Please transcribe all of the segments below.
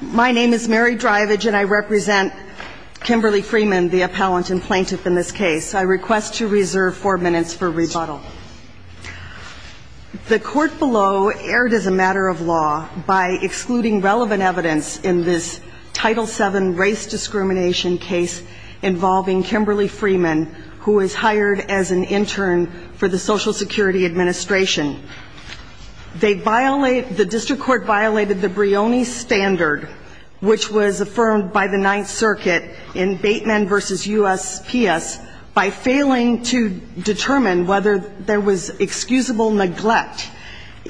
My name is Mary Drivage and I represent Kimberly Freeman the appellant and plaintiff in this case. I request to reserve four minutes for rebuttal. The court below erred as a matter of law by excluding relevant evidence in this Title VII race discrimination case involving Kimberly Freeman who is hired as an intern for the Social Security Administration. They violate, the district court violated the Brioni standard which was affirmed by the Ninth Circuit in Bateman v. USPS by failing to determine whether there was excusable neglect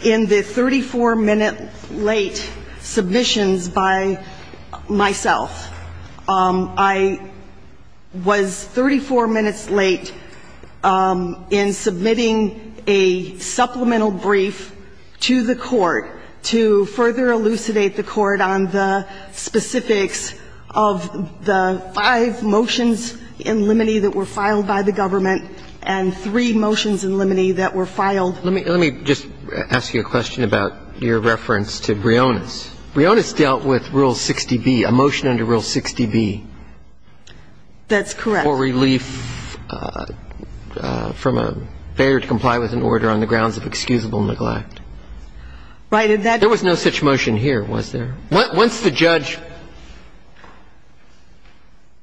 in the 34-minute late submissions by myself. I was 34 minutes late in submitting a motion to further elucidate the court on the specifics of the five motions in limine that were filed by the government and three motions in limine that were filed. Let me just ask you a question about your reference to Brionis. Brionis dealt with Rule 60B, a motion under Rule 60B. That's correct. For relief from a failure to comply with an order on the grounds of excusable neglect. Right. And that There was no such motion here, was there? Once the judge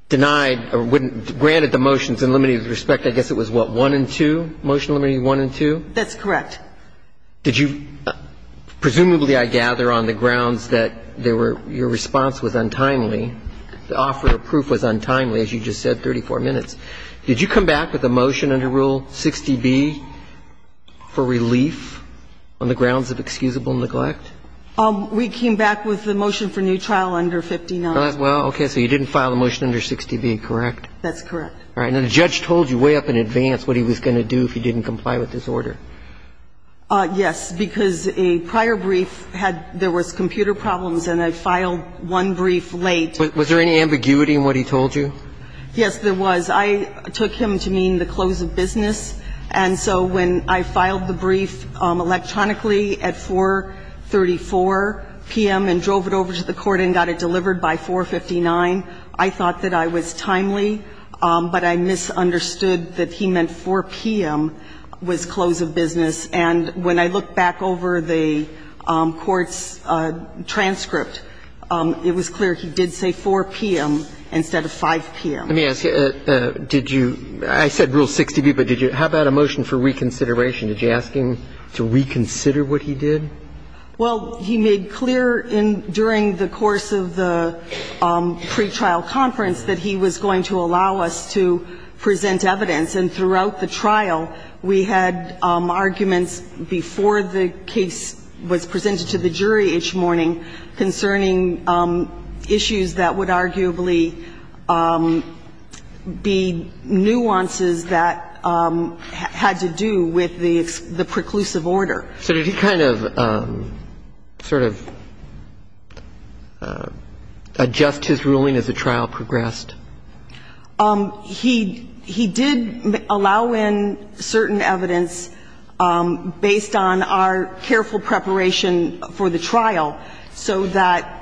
denied or wouldn't granted the motions in limine with respect, I guess it was what, one and two, motion in limine one and two? That's correct. Did you, presumably I gather on the grounds that there were, your response was untimely. The offer of proof was untimely, as you just said, 34 minutes. Did you come back with a motion under Rule 60B for relief? On the grounds of excusable neglect? We came back with the motion for new trial under 59. Well, okay. So you didn't file the motion under 60B, correct? That's correct. All right. Now, the judge told you way up in advance what he was going to do if he didn't comply with this order. Yes, because a prior brief had – there was computer problems and I filed one brief late. Was there any ambiguity in what he told you? Yes, there was. I took him to mean the close of business. And so when I filed the motion electronically at 4.34 p.m. and drove it over to the court and got it delivered by 4.59, I thought that I was timely, but I misunderstood that he meant 4 p.m. was close of business. And when I looked back over the court's transcript, it was clear he did say 4 p.m. instead of 5 p.m. Let me ask you, did you – I said Rule 60B, but did you – how about a motion for reconsideration? Did you ask him to reconsider what he did? Well, he made clear in – during the course of the pretrial conference that he was going to allow us to present evidence. And throughout the trial, we had arguments before the case was presented to the jury each morning concerning issues that would arguably be nuances that had to do with the preclusive order. So did he kind of sort of adjust his ruling as the trial progressed? He did allow in certain evidence based on our careful preparation for the trial so that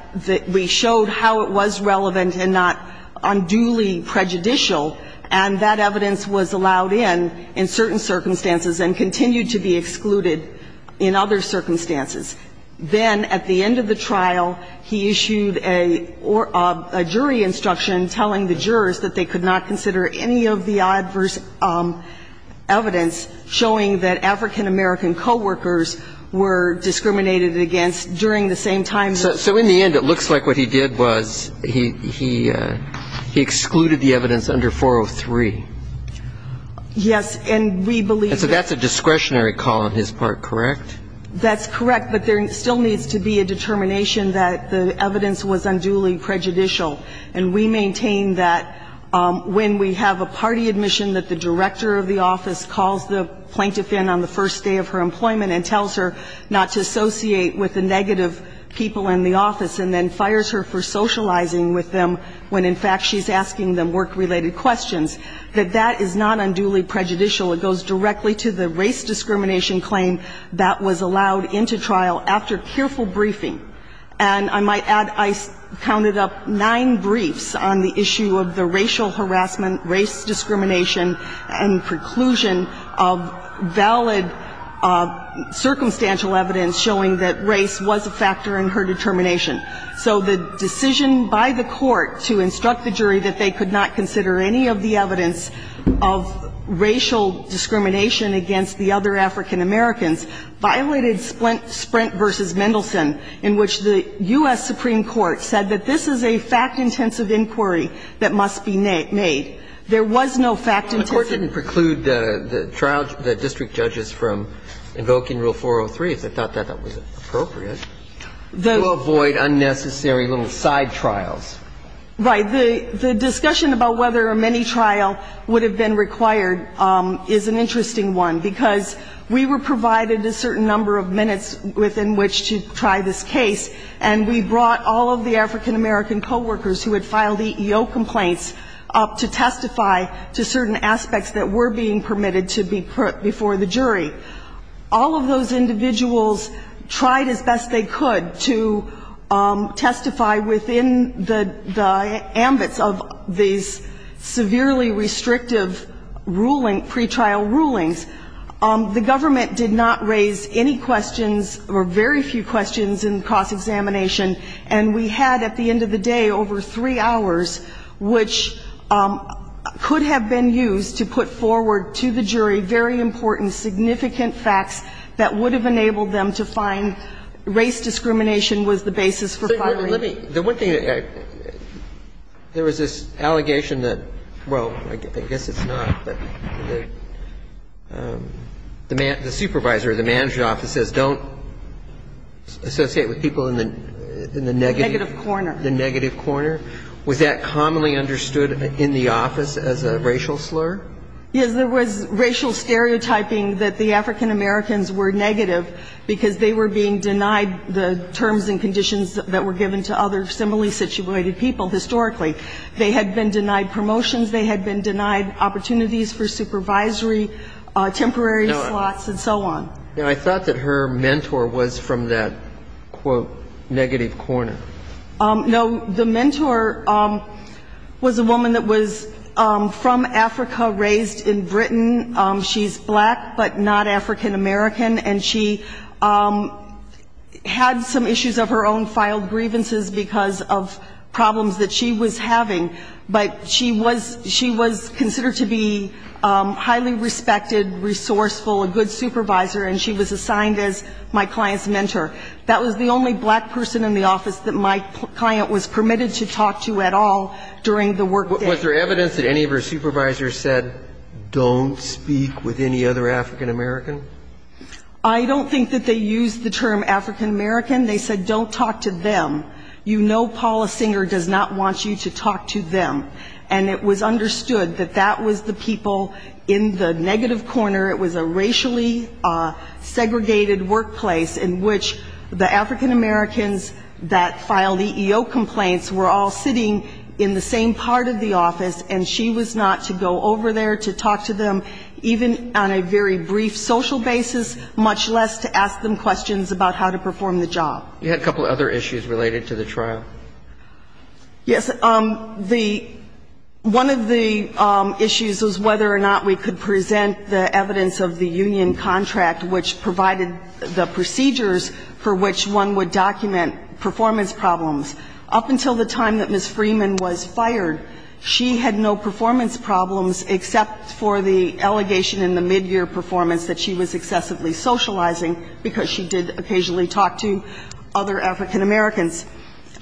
we showed how it was relevant and not unduly prejudicial. And that evidence was allowed in in certain circumstances and continued to be excluded in other circumstances. Then at the end of the trial, he issued a jury instruction telling the jurors that they could not consider any of the adverse evidence showing that African-American coworkers were discriminated against during the same time that they were present. And so that's a discretionary call on his part, correct? That's correct. But there still needs to be a determination that the evidence was unduly prejudicial. And we maintain that when we have a party admission that the director of the office calls the plaintiff in on the first day of her employment and tells her not to associate with the negative people in the office and then fires her for socializing with them when in fact she's asking them work-related questions, that that is not unduly prejudicial. It goes directly to the race discrimination claim that was allowed into trial after careful briefing. And I might add I counted up nine briefs on the issue of the racial harassment, race discrimination, and preclusion of valid circumstantial evidence showing that race was a factor in her determination. So the decision by the Court to instruct the jury that they could not consider any of the evidence of racial discrimination against the other African-Americans violated Sprint v. Mendelson, in which the U.S. Supreme Court said that this is a fact-intensive inquiry that must be made. There was no fact-intensive inquiry. The Court didn't preclude the trial the district judges from invoking Rule 403, if they thought that that was appropriate. To avoid unnecessary little side trials. Right. The discussion about whether a mini-trial would have been required is an interesting one, because we were provided a certain number of minutes within which to try this case, and we brought all of the African-American co-workers who had filed EEO complaints up to testify to certain aspects that were being permitted to be put before the jury. All of those individuals tried as best they could to testify within the ambits of these severely restrictive ruling, pretrial rulings. The government did not raise any questions or very few questions in cross-examination, and we had at the end of the day over three hours, which could have been used to put forward to the jury very important, significant facts that would have enabled them to find race discrimination was the basis for filing. The one thing that I, there was this allegation that, well, I guess it's not, but the supervisor of the management office says don't associate with people in the negative corner. The negative corner. Was that commonly understood in the office as a racial slur? Yes, there was racial stereotyping that the African-Americans were negative because they were being denied the terms and conditions that were given to other similarly situated people historically. They had been denied promotions. They had been denied opportunities for supervisory, temporary slots and so on. Now, I thought that her mentor was from that, quote, negative corner. No, the mentor was a woman that was from Africa, raised in Britain. She's black but not African-American, and she had some issues of her own, filed grievances because of problems that she was having, but she was considered to be highly respected, resourceful, a good supervisor, and she was assigned as my client's mentor. That was the only black person in the office that my client was permitted to talk to at all during the workday. Was there evidence that any of her supervisors said don't speak with any other African-American? I don't think that they used the term African-American. They said don't talk to them. You know Paula Singer does not want you to talk to them. And it was understood that that was the people in the negative corner. It was a racially segregated workplace in which the African-Americans that filed EEO complaints were all sitting in the same part of the office, and she was not to go over there to talk to them, even on a very brief social basis, much less to ask them questions about how to perform the job. You had a couple of other issues related to the trial. Yes. One of the issues was whether or not we could present the evidence of the union contract which provided the procedures for which one would document performance problems. Up until the time that Ms. Freeman was fired, she had no performance problems except for the allegation in the midyear performance that she was excessively socializing because she did occasionally talk to other African-Americans.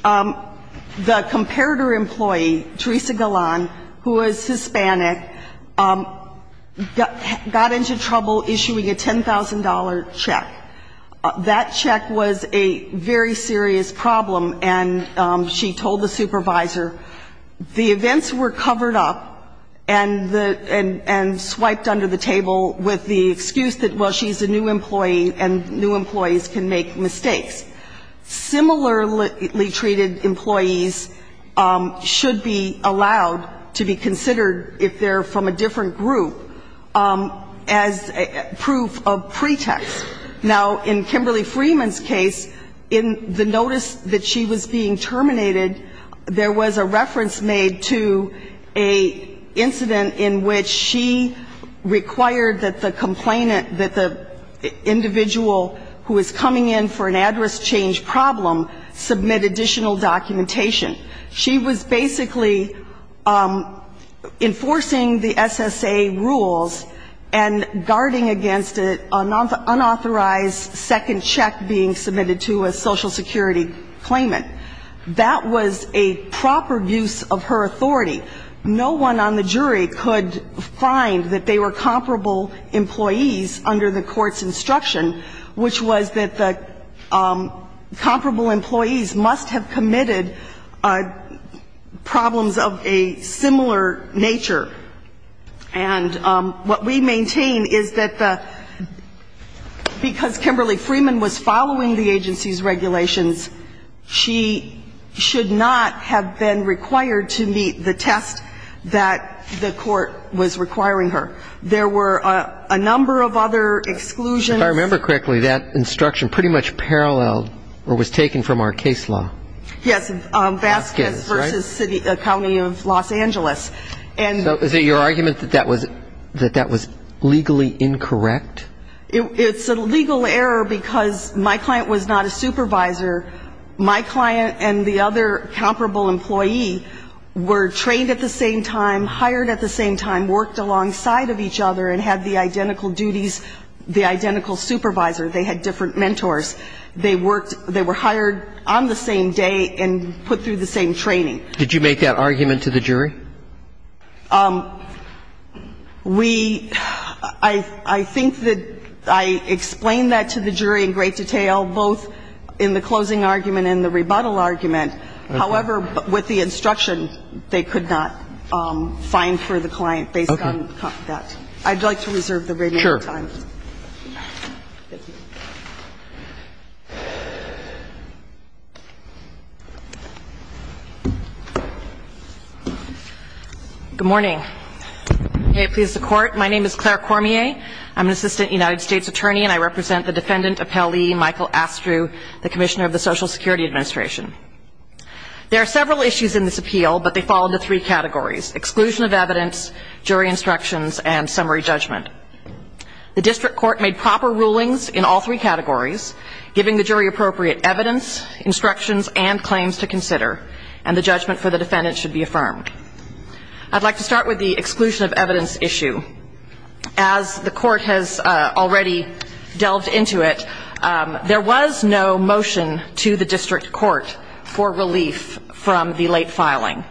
The comparator employee, Teresa Galan, who is Hispanic, got into trouble issuing a $10,000 check. That check was a very serious problem, and she told the supervisor the events were covered up and swiped under the table with the excuse that, well, she's a new employee and new employees can make mistakes. Similarly treated employees should be allowed to be considered, if they're from a different group, as proof of pretext. Now, in Kimberly Freeman's case, in the notice that she was being terminated, there was a reference made to an incident in which she required that the complainant, that the individual who is coming in for an address change problem submit additional documentation. She was basically enforcing the SSA rules and guarding against an unauthorized second check being submitted to a Social Security claimant. That was a proper use of her authority. No one on the jury could find that they were comparable employees under the court's instruction, which was that the comparable employees must have committed problems of a similar nature. And what we maintain is that the, because Kimberly Freeman was following the agency's regulations, she should not have been required to meet the test that the court was requiring her. There were a number of other exclusions. If I remember correctly, that instruction pretty much paralleled or was taken from our case law. Yes, Vasquez versus city, county of Los Angeles. So is it your argument that that was legally incorrect? It's a legal error because my client was not a supervisor. My client and the other comparable employee were trained at the same time, hired at the same time, worked alongside of each other and had the identical duties, the identical supervisor. They had different mentors. They worked, they were hired on the same day and put through the same training. Did you make that argument to the jury? We, I think that I explained that to the jury in great detail, both in the closing argument and the rebuttal argument. However, with the instruction, they could not find for the client based on that. Okay. I'd like to reserve the remaining time. Sure. Thank you. Good morning. May it please the Court. My name is Claire Cormier. I'm an assistant United States attorney, and I represent the defendant, Appellee Michael Astrew, the commissioner of the Social Security Administration. There are several issues in this appeal, but they fall into three categories, exclusion of evidence, jury instructions and summary judgment. The district court made proper rulings in all three categories, giving the jury appropriate evidence, instructions and claims to consider, and the judgment for the defendant should be affirmed. I'd like to start with the exclusion of evidence issue. As the Court has already delved into it, there was no motion to the district court for relief from the late filing.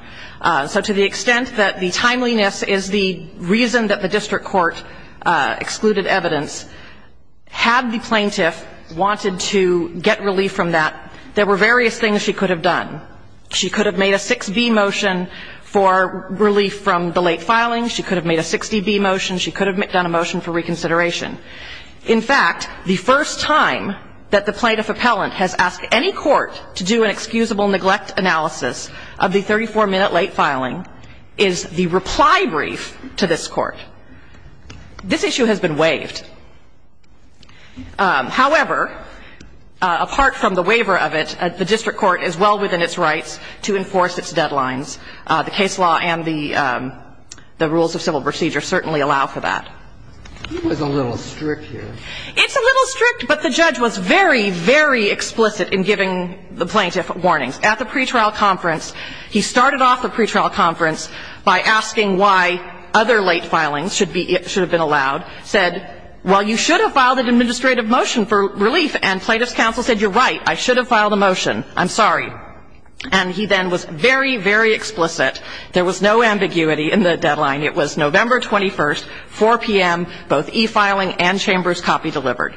So to the extent that the timeliness is the reason that the district court excluded evidence, had the plaintiff wanted to get relief from that, there were various things she could have done. She could have made a 6B motion for relief from the late filing. She could have made a 60B motion. She could have done a motion for reconsideration. In fact, the first time that the plaintiff appellant has asked any court to do an excusable neglect analysis of the 34-minute late filing is the reply brief to this Court. This issue has been waived. However, apart from the waiver of it, the district court is well within its rights to enforce its deadlines. The case law and the rules of civil procedure certainly allow for that. He was a little strict here. It's a little strict, but the judge was very, very explicit in giving the plaintiff warnings. At the pretrial conference, he started off the pretrial conference by asking why other late filings should have been allowed, said, well, you should have filed an administrative motion for relief, and plaintiff's counsel said, you're right, I should have filed an administrative motion. He then was very, very explicit. There was no ambiguity in the deadline. It was November 21st, 4 p.m., both e-filing and Chambers copy delivered.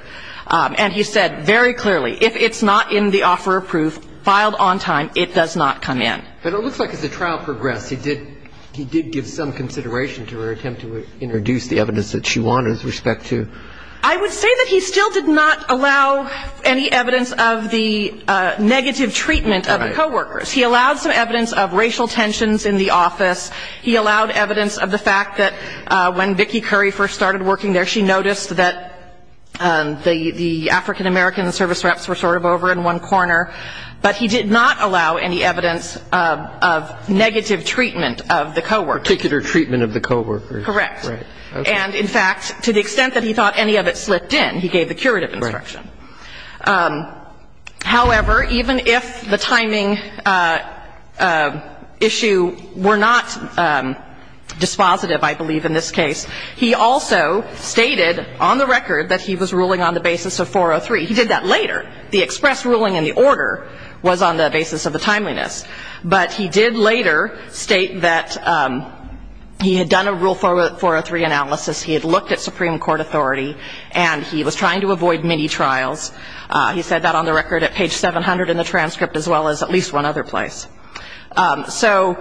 And he said very clearly, if it's not in the offeror proof, filed on time, it does not come in. But it looks like as the trial progressed, he did give some consideration to her attempt to introduce the evidence that she wanted with respect to ---- I would say that he still did not allow any evidence of the negative treatment of the coworkers. He allowed some evidence of racial tensions in the office. He allowed evidence of the fact that when Vicki Curry first started working there, she noticed that the African-American service reps were sort of over in one corner. But he did not allow any evidence of negative treatment of the coworkers. Particular treatment of the coworkers. Correct. Right. And in fact, to the extent that he thought any of it slipped in, he gave the curative instruction. Right. However, even if the timing issue were not dispositive, I believe, in this case, he also stated on the record that he was ruling on the basis of 403. He did that later. The express ruling in the order was on the basis of the timeliness. But he did later state that he had done a rule 403 analysis. He had looked at Supreme Court authority. And he was trying to avoid many trials. He said that on the record at page 700 in the transcript, as well as at least one other place. So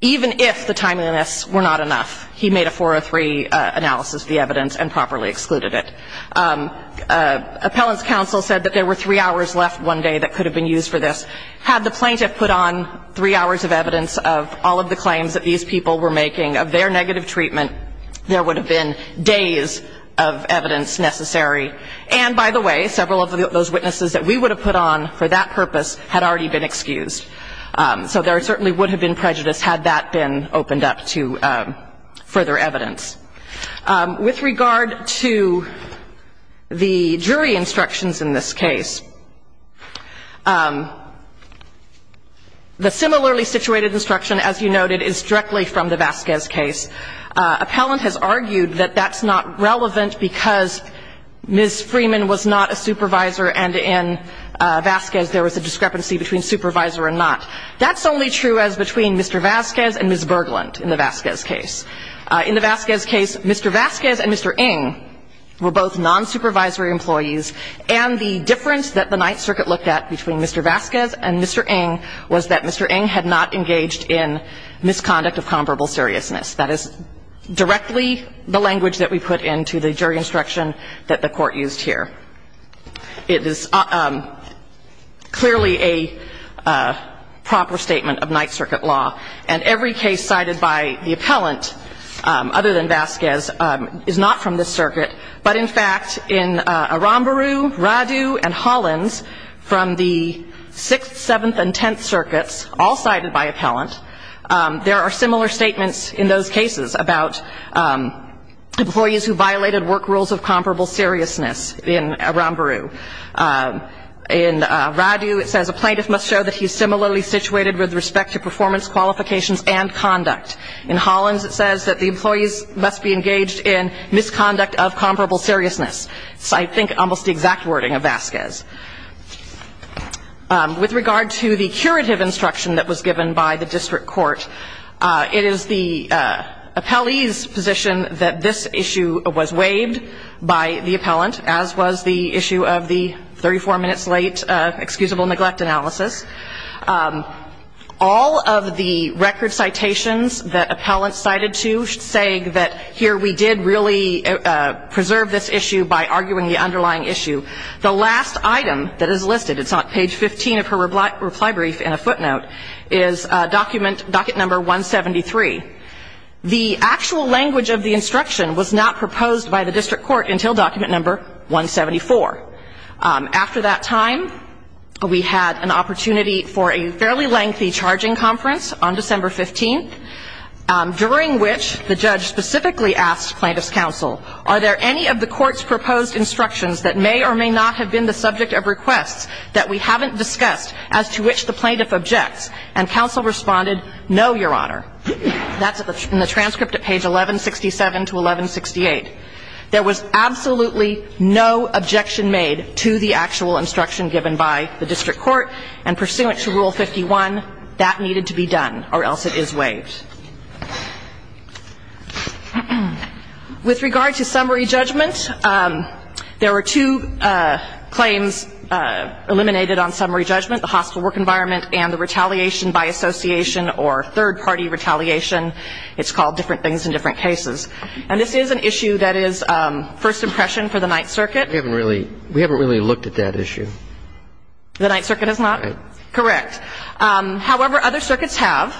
even if the timeliness were not enough, he made a 403 analysis of the evidence and properly excluded it. Appellant's counsel said that there were three hours left one day that could have been used for this. Had the plaintiff put on three hours of evidence of all of the claims that these people were making of their negative treatment, there would have been days of evidence necessary. And, by the way, several of those witnesses that we would have put on for that purpose had already been excused. So there certainly would have been prejudice had that been opened up to further evidence. With regard to the jury instructions in this case, the similarly situated instruction, as you noted, is directly from the Vasquez case. Appellant has argued that that's not relevant because Ms. Freeman was not a supervisor and in Vasquez there was a discrepancy between supervisor and not. That's only true as between Mr. Vasquez and Ms. Berglund in the Vasquez case. In the Vasquez case, Mr. Vasquez and Mr. Ng were both nonsupervisory employees and the difference that the Ninth Circuit looked at between Mr. Vasquez and Mr. Ng was that Mr. Ng had not engaged in misconduct of comparable seriousness. That is directly the language that we put into the jury instruction that the Court used here. It is clearly a proper statement of Ninth Circuit law. And every case cited by the appellant, other than Vasquez, is not from this circuit. But in fact, in Aramburu, Radu, and Hollins, from the Sixth, Seventh, and Tenth Circuits, all cited by appellant, there are similar statements in those cases about employees who violated work rules of comparable seriousness in Aramburu. In Radu, it says a plaintiff must show that he is similarly situated with respect to performance, qualifications, and conduct. In Hollins, it says that the employees must be engaged in misconduct of comparable seriousness. It's, I think, almost the exact wording of Vasquez. With regard to the curative instruction that was given by the district court, it is the appellee's position that this issue was waived by the appellant, as was the issue of the 34 minutes late excusable neglect analysis. All of the record citations that appellants cited to say that here we did really preserve this issue by arguing the underlying issue. The last item that is listed, it's on page 15 of her reply brief in a footnote, is document no. 173. The actual language of the instruction was not proposed by the district court until document no. 174. After that time, we had an opportunity for a fairly lengthy charging conference on December 15th, during which the judge specifically asked plaintiff's counsel, are there any of the court's proposed instructions that may or may not have been the subject of requests that we haven't discussed as to which the plaintiff objects? And counsel responded, no, Your Honor. That's in the transcript at page 1167 to 1168. There was absolutely no objection made to the actual instruction given by the district court, and pursuant to Rule 51, that needed to be done, or else it is waived. With regard to summary judgment, there were two claims eliminated on summary judgment, the hostile work environment and the retaliation by association or third-party retaliation. It's called different things in different cases. And this is an issue that is first impression for the Ninth Circuit. We haven't really looked at that issue. The Ninth Circuit has not? Correct. However, other circuits have.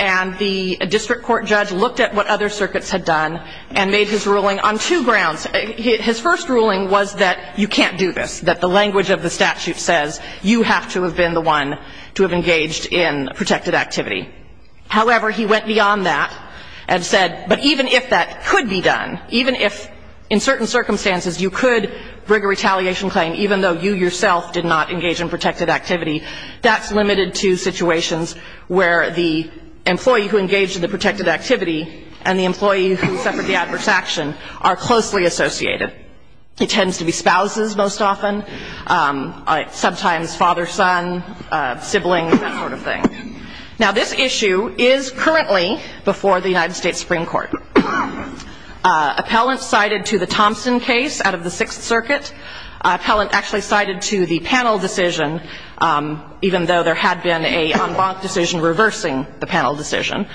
And the district court judge looked at what other circuits had done and made his ruling on two grounds. His first ruling was that you can't do this, that the language of the statute says you have to have been the one to have engaged in protected activity. However, he went beyond that and said, but even if that could be done, even if in certain circumstances you could bring a retaliation claim, even though you yourself did not engage in protected activity, that's limited to situations where the employee who engaged in the protected activity and the employee who suffered the adverse action are closely associated. It tends to be spouses most often, sometimes father-son, siblings, that sort of thing. Now, this issue is currently before the United States Supreme Court. Appellant cited to the Thompson case out of the Sixth Circuit. Appellant actually cited to the panel decision, even though there had been a en banc decision reversing the panel decision.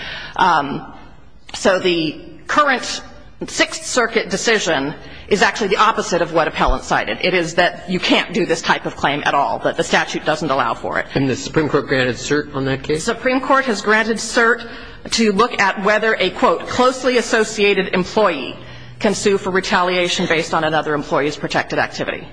So the current Sixth Circuit decision is actually the opposite of what appellant cited. It is that you can't do this type of claim at all, that the statute doesn't allow And the Supreme Court granted cert on that case? The Supreme Court has granted cert to look at whether a, quote, closely associated employee can sue for retaliation based on another employee's protected activity.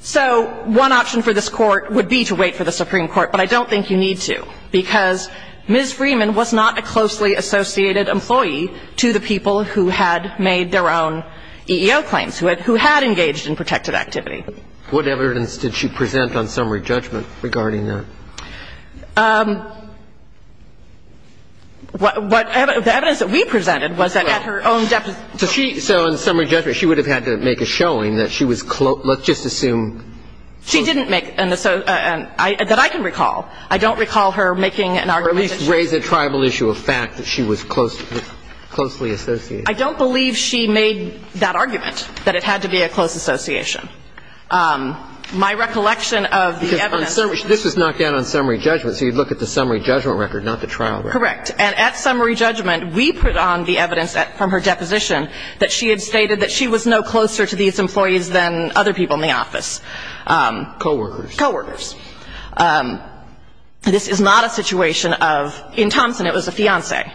So one option for this Court would be to wait for the Supreme Court, but I don't think you need to because Ms. Freeman was not a closely associated employee to the people who had made their own EEO claims, who had engaged in protected activity. What evidence did she present on summary judgment regarding that? The evidence that we presented was that at her own deposition. So in summary judgment, she would have had to make a showing that she was close Let's just assume. She didn't make an association, that I can recall. I don't recall her making an argument. Or at least raise a tribal issue of fact that she was closely associated. I don't believe she made that argument, that it had to be a close association. My recollection of the evidence This was knocked down on summary judgment, so you'd look at the summary judgment record, not the trial record. Correct. And at summary judgment, we put on the evidence from her deposition that she had stated that she was no closer to these employees than other people in the office. Co-workers. Co-workers. This is not a situation of In Thompson, it was a fiancé.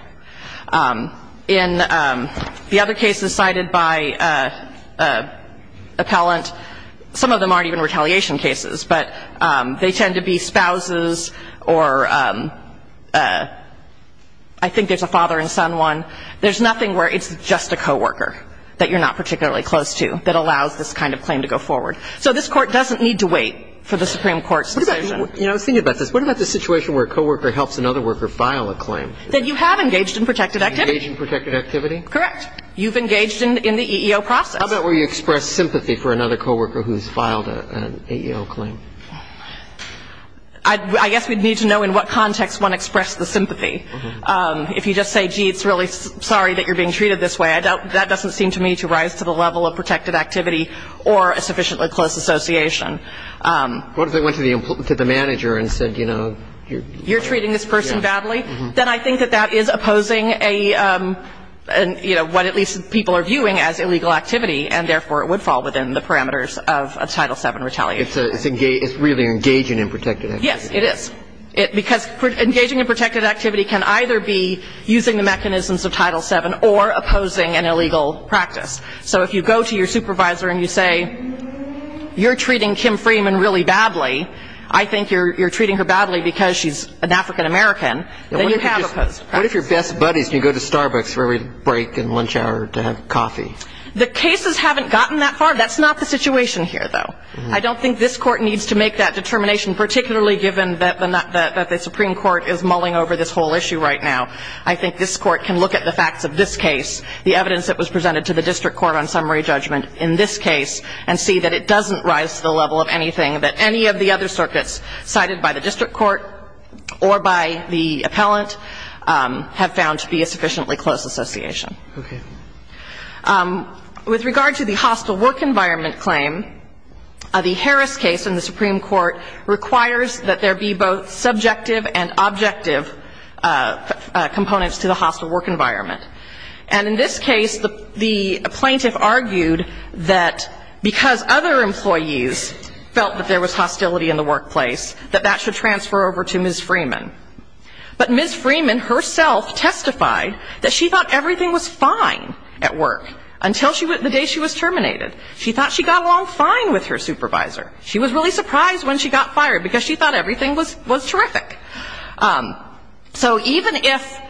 In the other cases cited by appellant, some of them aren't even retaliation cases, but they tend to be spouses or I think there's a father and son one. There's nothing where it's just a co-worker that you're not particularly close to that allows this kind of claim to go forward. So this Court doesn't need to wait for the Supreme Court's decision. What about the situation where a co-worker helps another worker file a claim? That you have engaged in protected activity. Engaged in protected activity? Correct. You've engaged in the EEO process. How about where you express sympathy for another co-worker who's filed an EEO claim? I guess we'd need to know in what context one expressed the sympathy. If you just say, gee, it's really sorry that you're being treated this way, that doesn't seem to me to rise to the level of protected activity or a sufficiently close association. What if they went to the manager and said, you know, you're You're treating this person badly? Then I think that that is opposing a, you know, what at least people are viewing as illegal activity and therefore it would fall within the parameters of a Title VII retaliation. It's really engaging in protected activity. Yes, it is. Because engaging in protected activity can either be using the mechanisms of Title VII or opposing an illegal practice. So if you go to your supervisor and you say, you're treating Kim Freeman really badly, I think you're treating her badly because she's an African-American, then you have opposed a practice. What if your best buddies can go to Starbucks for every break and lunch hour to have coffee? The cases haven't gotten that far. That's not the situation here, though. I don't think this Court needs to make that determination, particularly given that the Supreme Court is mulling over this whole issue right now. I think this Court can look at the facts of this case, the evidence that was presented to the district court on summary judgment in this case, and see that it doesn't rise to the level of anything that any of the other circuits cited by the district court or by the appellant have found to be a sufficiently close association. Okay. With regard to the hostile work environment claim, the Harris case in the Supreme Court requires that there be both subjective and objective components to the hostile work environment. And in this case, the plaintiff argued that because other employees felt that there was hostility in the workplace, that that should transfer over to Ms. Freeman. But Ms. Freeman herself testified that she thought everything was fine at work until the day she was terminated. She thought she got along fine with her supervisor. She was really surprised when she got fired because she thought everything was terrific. So even if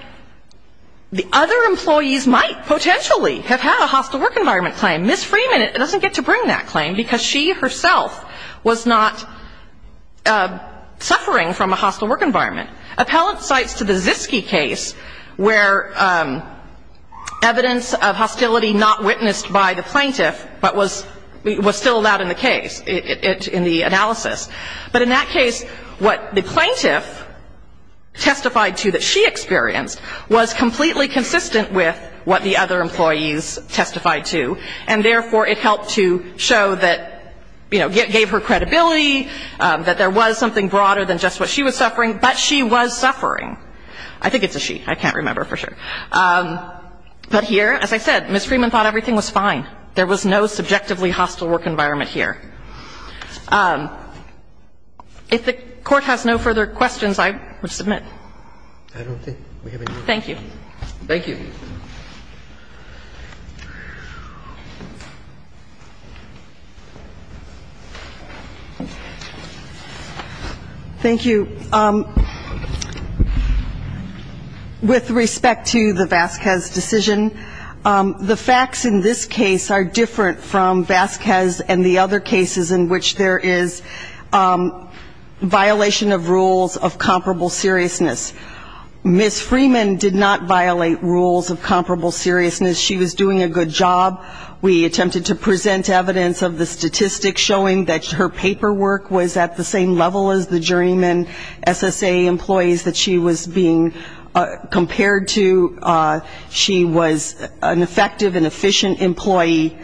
the other employees might potentially have had a hostile work environment claim, Ms. Freeman doesn't get to bring that claim because she herself was not suffering from a hostile work environment. Appellant cites to the Ziske case where evidence of hostility not witnessed by the plaintiff, but was still allowed in the case, in the analysis. But in that case, what the plaintiff testified to that she experienced was completely consistent with what the other employees testified to. And therefore, it helped to show that, you know, gave her credibility, that there was something broader than just what she was suffering, but she was suffering. I think it's a she. I can't remember for sure. But here, as I said, Ms. Freeman thought everything was fine. There was no subjectively hostile work environment here. If the Court has no further questions, I would submit. Thank you. Thank you. Thank you. With respect to the Vasquez decision, the facts in this case are different from Vasquez and the other cases in which there is violation of rules of comparable seriousness. Ms. Freeman did not violate rules of comparable seriousness. She was doing a good job. We attempted to present evidence of the statistics showing that her paperwork was at the same level as the journeyman SSA employees that she was being compared to. She was an effective and efficient employee.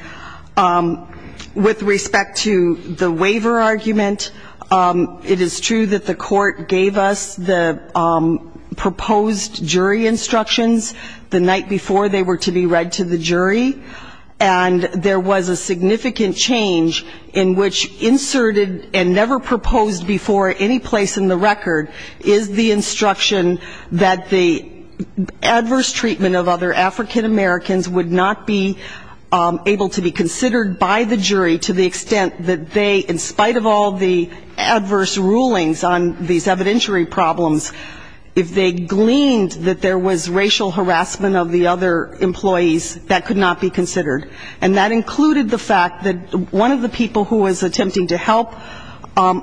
With respect to the waiver argument, it is true that the Court gave us the proposed jury instructions the night before they were to be read to the jury. And there was a significant change in which inserted and never proposed before any place in the record is the instruction that the adverse treatment of other African-Americans would not be able to be considered by the jury to the extent that they, in spite of all the adverse rulings on these evidentiary problems, if they gleaned that there was racial harassment of the other employees, that could not be considered. And that included the fact that one of the people who was attempting to help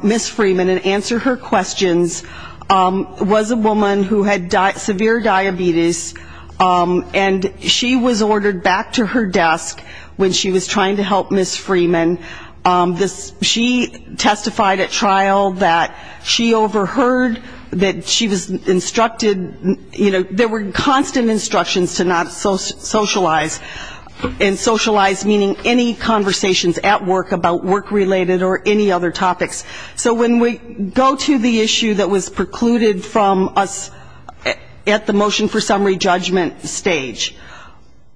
Ms. Freeman and answer her questions was a woman who had severe diabetes, and she was ordered back to her desk when she was trying to help Ms. Freeman. She testified at trial that she overheard that she was instructed, you know, there were constant instructions to not socialize, and socialize meaning any conversations at work about work-related or any other topics. So when we go to the issue that was precluded from us at the motion for summary judgment stage,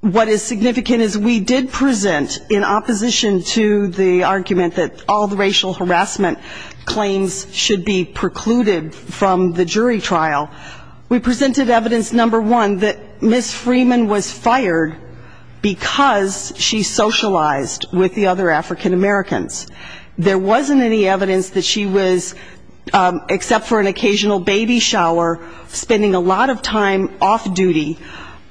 what is significant is we did present in opposition to the argument that all the racial harassment claims should be precluded from the jury trial, we presented evidence, number one, that Ms. Freeman was fired because she socialized with the other African-Americans. There wasn't any evidence that she was, except for an occasional baby shower, spending a lot of time off-duty,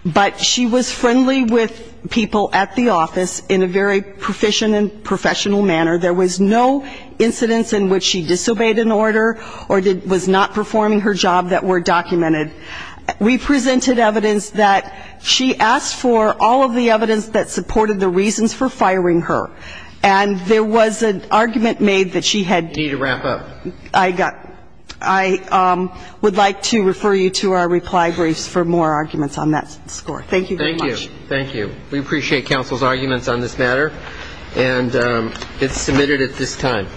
but she was friendly with people at the office in a very proficient and professional manner. There was no incidence in which she disobeyed an order or was not performing her job that were documented. We presented evidence that she asked for all of the evidence that supported the reasons for firing her. And there was an argument made that she had to wrap up. I would like to refer you to our reply briefs for more arguments on that score. Thank you very much. Thank you. We appreciate counsel's arguments on this matter. And it's submitted at this time.